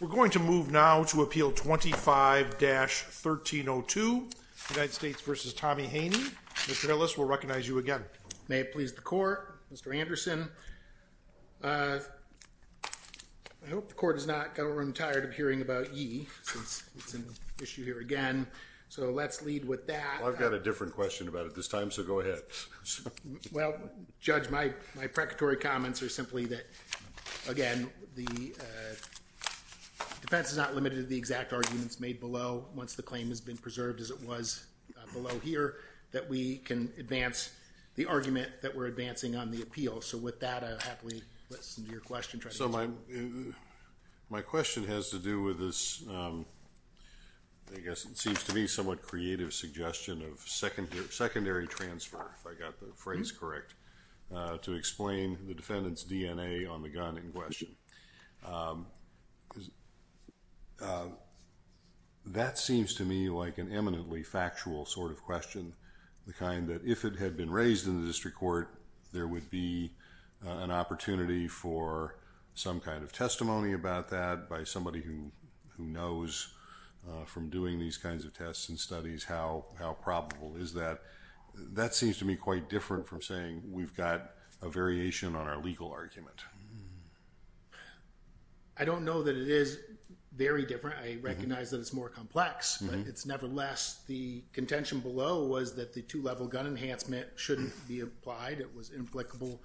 We're going to move now to appeal 25-1302 United States v. Tommie Haney. Mr. Ellis, we'll recognize you again. May it please the court, Mr. Anderson. I hope the court has not got a room tired of hearing about ye, since it's an issue here again. So let's lead with that. Well, I've got a different question about it this time, so go ahead. Well, Judge, my precatory comments are simply that, again, the defense is not limited to the exact arguments made below. Once the claim has been preserved as it was below here, that we can advance the argument that we're advancing on the appeal. So with that, I'll happily listen to your question. So my question has to do with this, I guess it seems to me, somewhat creative suggestion of secondary transfer, if I got the phrase correct, to explain the defendant's DNA on the gun in question. That seems to me like an eminently factual sort of question, the kind that if it had been raised in the district court, there would be an opportunity for some kind of testimony about that by somebody who knows from doing these kinds of tests and studies how probable. Is that, that seems to me quite different from saying we've got a variation on our legal argument. I don't know that it is very different. I recognize that it's more complex, but it's nevertheless, the contention below was that the two level gun enhancement shouldn't be applied. It was implicable.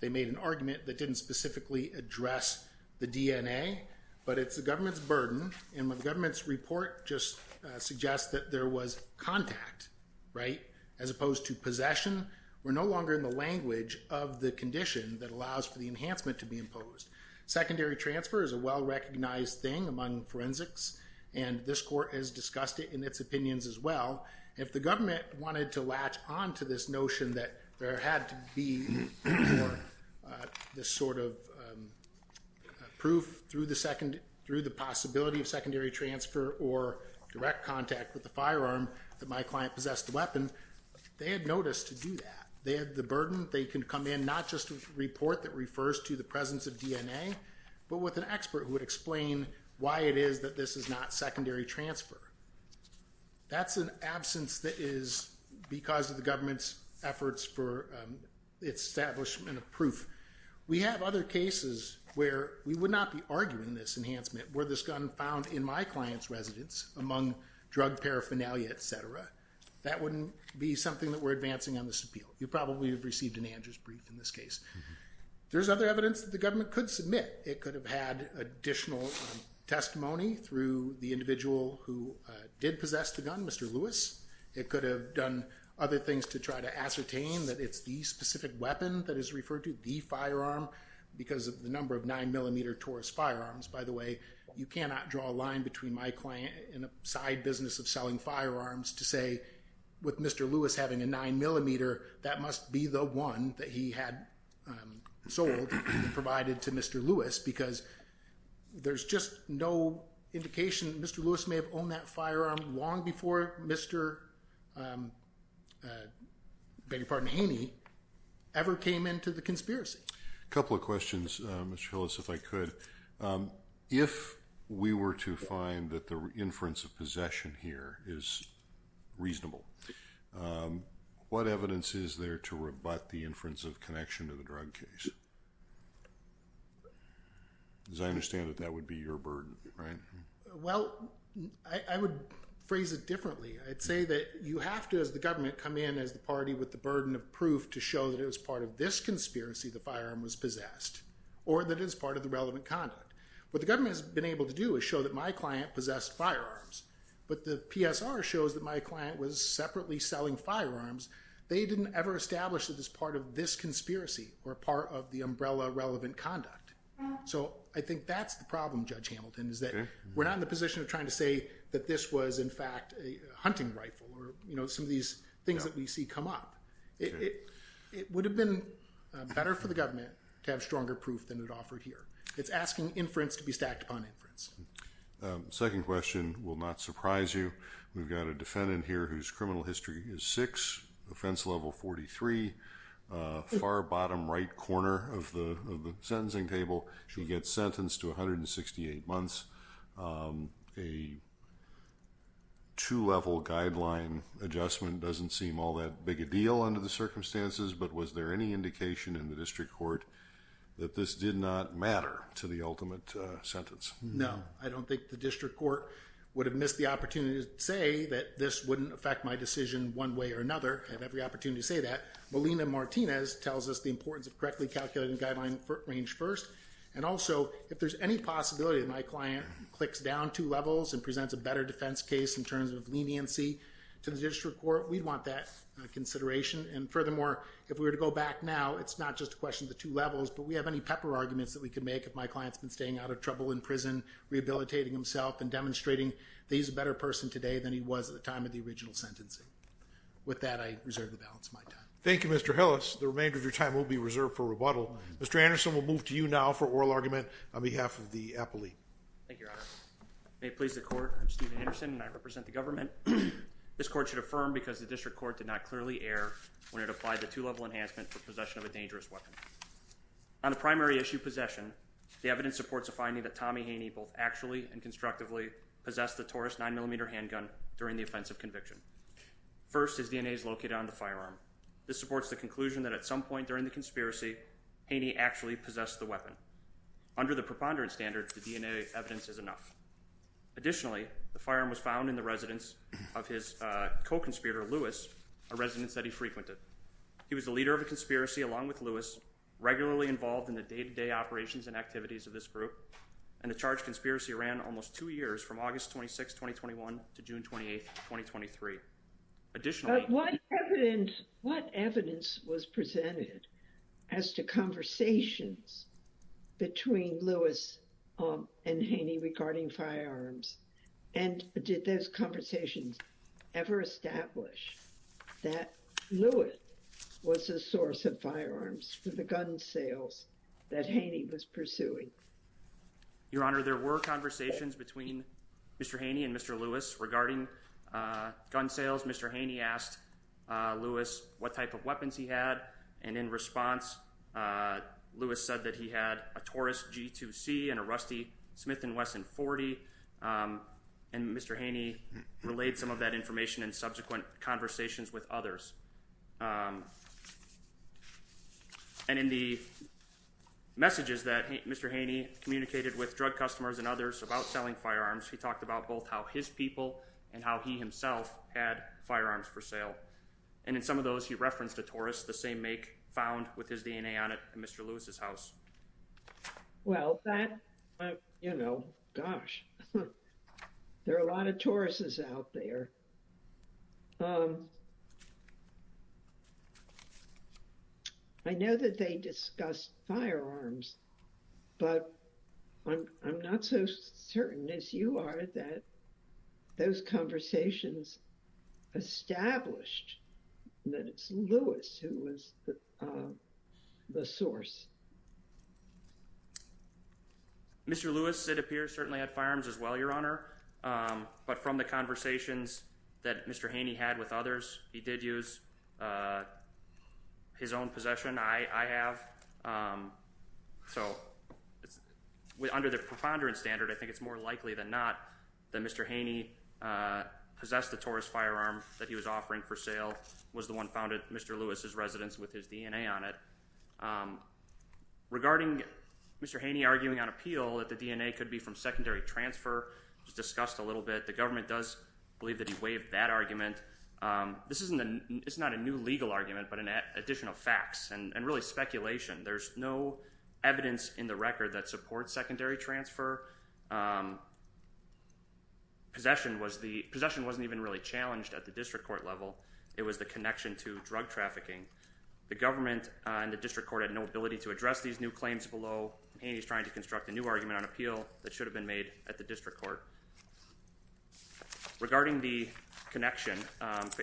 They made an argument that didn't specifically address the DNA, but it's the government's burden. And the government's report just suggests that there was contact, right, as opposed to possession. We're no longer in the language of the condition that allows for the enhancement to be imposed. Secondary transfer is a well recognized thing among forensics, and this court has discussed it in its opinions as well. If the government wanted to latch on to this notion that there had to be this sort of proof through the possibility of secondary transfer or direct contact with the firearm that my client possessed the weapon, they had notice to do that. They had the burden. They can come in not just with a report that refers to the presence of DNA, but with an expert who would explain why it is that this is not secondary transfer. That's an absence that is because of the government's efforts for establishment of proof. We have other cases where we would not be arguing this enhancement. Were this gun found in my client's residence among drug paraphernalia, et cetera, that wouldn't be something that we're advancing on this appeal. You probably have received an Andrews brief in this case. There's other evidence that the government could submit. It could have had additional testimony through the individual who did possess the gun, Mr. Lewis. It could have done other things to try to ascertain that it's the specific weapon that is referred to, the firearm, because of the number of nine millimeter Taurus firearms. By the way, you cannot draw a line between my client and a side business of selling firearms to say, with Mr. Lewis having a nine millimeter, that must be the one that he had sold and provided to Mr. Lewis because there's just no indication that Mr. Lewis may have owned that firearm long before Mr. Haney ever came into the conspiracy. A couple of questions, Mr. Lewis, if I could. If we were to find that the inference of possession here is reasonable, what evidence is there to rebut the inference of connection to the drug case? As I understand it, that would be your burden, right? Well, I would phrase it differently. I'd say that you have to, as the government, come in as the party with the burden of proof to show that it was part of this conspiracy the firearm was possessed or that it was part of the relevant conduct. What the government has been able to do is show that my client possessed firearms, but the PSR shows that my client was separately selling firearms. They didn't ever establish that it was part of this conspiracy or part of the umbrella relevant conduct. So I think that's the problem, Judge Hamilton, is that we're not in the position of trying to say that this was in fact a hunting rifle or some of these things that we see come up. It would have been better for the government to have stronger proof than it offered here. It's asking inference to be stacked upon inference. Second question will not surprise you. We've got a defendant here whose criminal history is 6, offense level 43, far bottom right corner of the sentencing table. She gets sentenced to 168 months. A two-level guideline adjustment doesn't seem all that big a deal under the circumstances, but was there any indication in the district court that this did not matter to the ultimate sentence? No, I don't think the district court would have missed the opportunity to say that this wouldn't affect my decision one way or another. I have every opportunity to say that. Melina Martinez tells us the importance of correctly calculating the guideline range first. And also, if there's any possibility that my client clicks down two levels and presents a better defense case in terms of leniency to the district court, we'd want that consideration. And furthermore, if we were to go back now, it's not just a question of the two levels, but we have any pepper arguments that we could make if my client's been staying out of trouble in prison, rehabilitating himself, and demonstrating that he's a better person today than he was at the time of the original sentencing. With that, I reserve the balance of my time. Thank you, Mr. Hillis. The remainder of your time will be reserved for rebuttal. Mr. Anderson, we'll move to you now for oral argument on behalf of the appellee. Thank you, Your Honor. May it please the court, I'm Steven Anderson, and I represent the government. This court should affirm because the district court did not clearly err when it applied the two-level enhancement for possession of a dangerous weapon. On the primary issue, possession, the evidence supports a finding that Tommy Haney both actually and constructively possessed the Taurus 9mm handgun during the offensive conviction. First, his DNA is located on the firearm. This supports the conclusion that at some point during the conspiracy, Haney actually possessed the weapon. Under the preponderance standards, the DNA evidence is enough. Additionally, the firearm was found in the residence of his co-conspirator, Lewis, a residence that he frequented. He was the leader of a conspiracy along with Lewis, regularly involved in the day-to-day operations and activities of this group, and the charged conspiracy ran almost two years from August 26, 2021 to June 28, 2023. But what evidence was presented as to conversations between Lewis and Haney regarding firearms? And did those conversations ever establish that Lewis was the source of firearms for the gun sales that Haney was pursuing? Your Honor, there were conversations between Mr. Haney and Mr. Lewis regarding gun sales. Mr. Haney asked Lewis what type of weapons he had, and in response, Lewis said that he had a Taurus G2C and a Rusty Smith & Wesson 40, and Mr. Haney relayed some of that information in subsequent conversations with others. And in the messages that Mr. Haney communicated with drug customers and others about selling firearms, he talked about both how his people and how he himself had firearms for sale. And in some of those, he referenced a Taurus, the same make found with his DNA on it in Mr. Lewis's house. Well, that, you know, gosh, there are a lot of Tauruses out there. I know that they discussed firearms, but I'm not so certain as you are that those conversations established that it's Lewis who was the source. Mr. Lewis, it appears, certainly had firearms as well, Your Honor. But from the conversations that Mr. Haney had with others, he did use his own possession. I have. So under the preponderance standard, I think it's more likely than not that Mr. Haney possessed the Taurus firearm that he was offering for sale, was the one found at Mr. Lewis's residence with his DNA on it. Regarding Mr. Haney arguing on appeal that the DNA could be from secondary transfer, which was discussed a little bit, the government does believe that he waived that argument. This is not a new legal argument, but an addition of facts and really speculation. There's no evidence in the record that supports secondary transfer. Possession wasn't even really challenged at the district court level. It was the connection to drug trafficking. The government and the district court had no ability to address these new claims below. Haney's trying to construct a new argument on appeal that should have been made at the district court. Regarding the connection,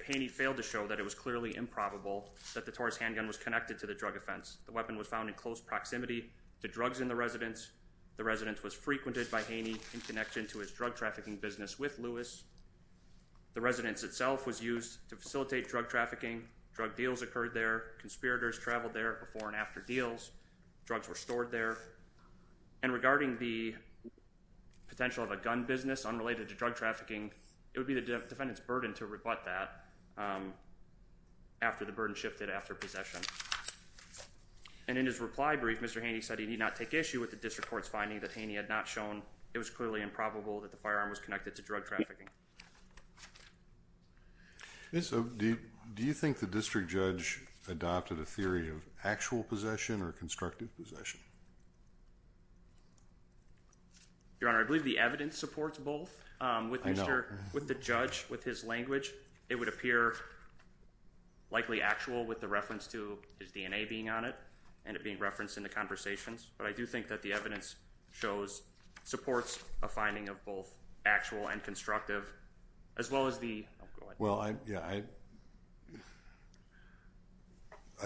Haney failed to show that it was clearly improbable that the Taurus handgun was connected to the drug offense. The weapon was found in close proximity to drugs in the residence. The residence was frequented by Haney in connection to his drug trafficking business with Lewis. The residence itself was used to facilitate drug trafficking. Drug deals occurred there. Conspirators traveled there before and after deals. Drugs were stored there. And regarding the potential of a gun business unrelated to drug trafficking, it would be the defendant's burden to rebut that after the burden shifted after possession. And in his reply brief, Mr. Haney said he did not take issue with the district court's finding that Haney had not shown it was clearly improbable that the firearm was connected to drug trafficking. Do you think the district judge adopted a theory of actual possession or constructive possession? Your Honor, I believe the evidence supports both. I know. With the judge, with his language, it would appear likely actual with the reference to his DNA being on it and it being referenced in the conversations. But I do think that the evidence shows, supports a finding of both actual and constructive as well as the... Well, I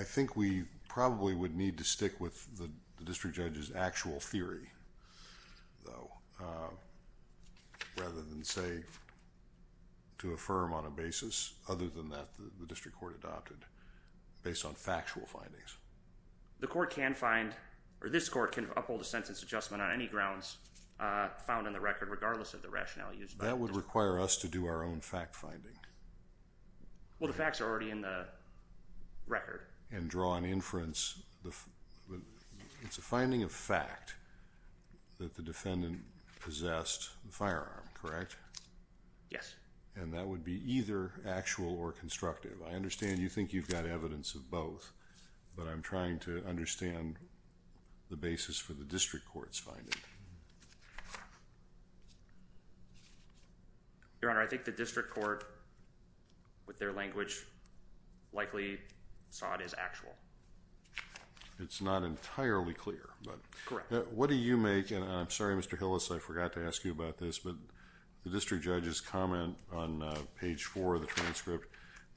think we probably would need to stick with the district judge's actual theory, though, rather than say to affirm on a basis other than that the district court adopted based on factual findings. The court can find, or this court can uphold a sentence adjustment on any grounds found in the record regardless of the rationale used by the district judge. That would require us to do our own fact finding. Well, the facts are already in the record. And draw an inference. It's a finding of fact that the defendant possessed the firearm, correct? Yes. And that would be either actual or constructive. I understand you think you've got evidence of both. But I'm trying to understand the basis for the district court's finding. Your Honor, I think the district court, with their language, likely saw it as actual. It's not entirely clear. Correct. What do you make, and I'm sorry, Mr. Hillis, I forgot to ask you about this, but the district judge's comment on page four of the transcript,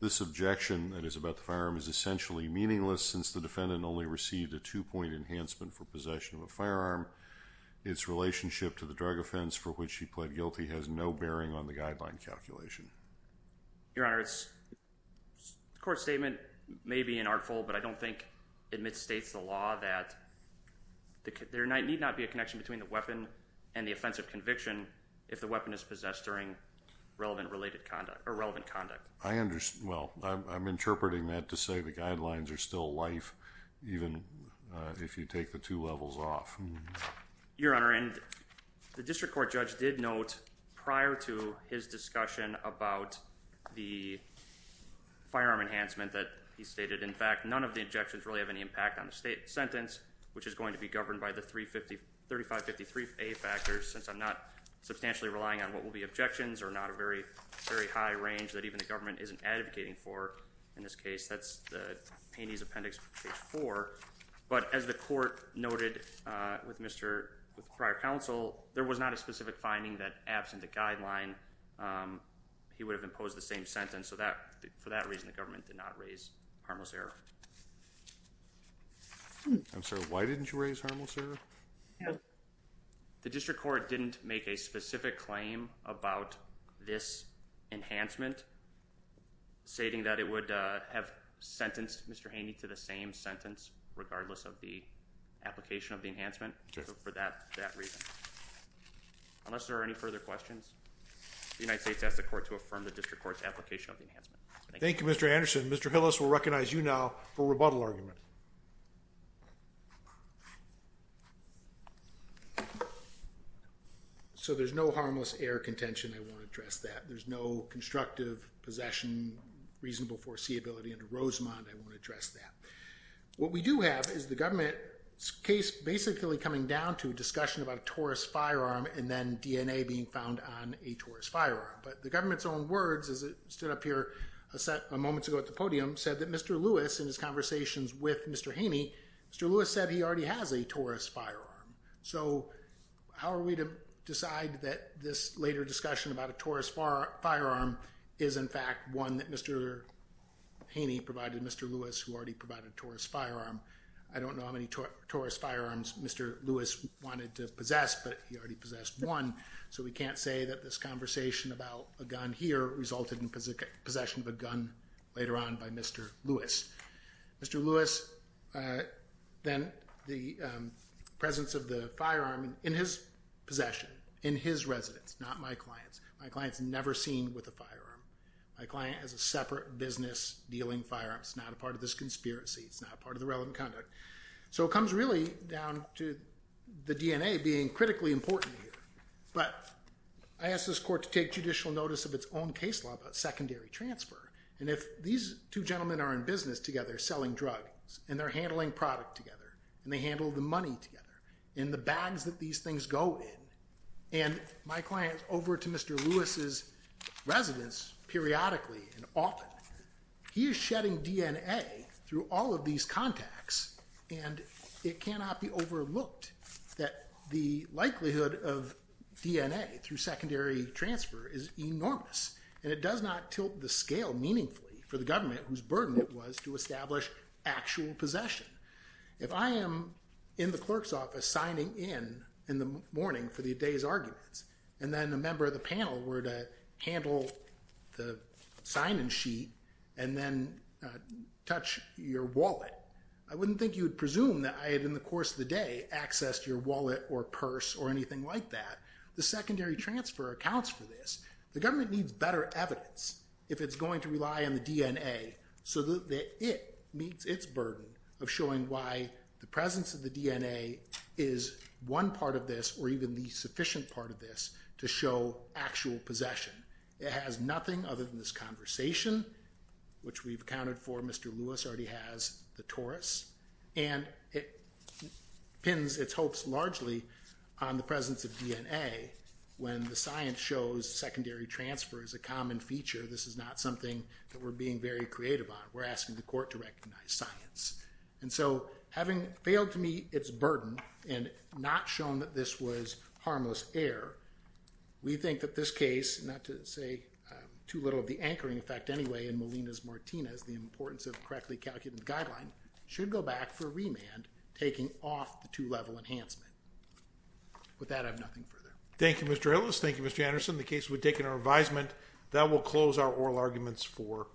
this objection that is about the firearm is essentially meaningless since the defendant only received a two-point enhancement for possession of a firearm. Its relationship to the drug offense for which he pled guilty has no bearing on the guideline calculation. Your Honor, the court's statement may be an artful, but I don't think it misstates the law that there need not be a connection between the weapon and the offense of conviction if the weapon is possessed during relevant conduct. Well, I'm interpreting that to say the guidelines are still life even if you take the two levels off. Your Honor, the district court judge did note prior to his discussion about the firearm enhancement that he stated, in fact, none of the objections really have any impact on the sentence, which is going to be governed by the 3553A factors, since I'm not substantially relying on what will be objections or not a very high range that even the government isn't advocating for in this case. That's the paintee's appendix for page four. But as the court noted with prior counsel, there was not a specific finding that absent a guideline, he would have imposed the same sentence. So for that reason, the government did not raise harmless error. I'm sorry, why didn't you raise harmless error? The district court didn't make a specific claim about this enhancement, stating that it would have sentenced Mr. Haney to the same sentence, regardless of the application of the enhancement for that reason. Unless there are any further questions, the United States has the court to affirm the district court's application of the enhancement. Thank you, Mr. Anderson. Mr. Hillis will recognize you now for rebuttal argument. So there's no harmless error contention. I won't address that. There's no constructive possession, reasonable foreseeability under Rosemont. I won't address that. What we do have is the government's case basically coming down to a discussion about a Taurus firearm and then DNA being found on a Taurus firearm. But the government's own words, as it stood up here a moment ago at the podium, said that Mr. Lewis, in his conversations with Mr. Haney, Mr. Lewis said he already has a Taurus firearm. So how are we to decide that this later discussion about a Taurus firearm is in fact one that Mr. Haney provided Mr. Lewis, who already provided a Taurus firearm? I don't know how many Taurus firearms Mr. Lewis wanted to possess, but he already possessed one. So we can't say that this conversation about a gun here resulted in possession of a gun later on by Mr. Lewis. Mr. Lewis, then the presence of the firearm in his possession, in his residence, not my client's. My client's never seen with a firearm. My client has a separate business dealing firearms. It's not a part of this conspiracy. It's not a part of the relevant conduct. So it comes really down to the DNA being critically important here. But I asked this court to take judicial notice of its own case law about secondary transfer. And if these two gentlemen are in business together selling drugs, and they're handling product together, and they handle the money together, and the bags that these things go in, and my client's over to Mr. Lewis's residence periodically and often, he is shedding DNA through all of these contacts. And it cannot be overlooked that the likelihood of DNA through secondary transfer is enormous. And it does not tilt the scale meaningfully for the government whose burden it was to establish actual possession. If I am in the clerk's office signing in in the morning for the day's arguments, and then a member of the panel were to handle the sign-in sheet and then touch your wallet, I wouldn't think you would presume that I had, in the course of the day, accessed your wallet or purse or anything like that. The secondary transfer accounts for this. The government needs better evidence if it's going to rely on the DNA so that it meets its burden of showing why the presence of the DNA is one part of this or even the sufficient part of this to show actual possession. It has nothing other than this conversation, which we've accounted for. Mr. Lewis already has the Taurus. And it pins its hopes largely on the presence of DNA when the science shows secondary transfer is a common feature. This is not something that we're being very creative on. We're asking the court to recognize science. And so having failed to meet its burden and not shown that this was harmless error, we think that this case, not to say too little of the anchoring effect anyway in Molina's Martinez, the importance of correctly calculated guideline, should go back for remand, taking off the two-level enhancement. With that, I have nothing further. Thank you, Mr. Ellis. Thank you, Mr. Anderson. The case would take an advisement. That will close our oral arguments for today.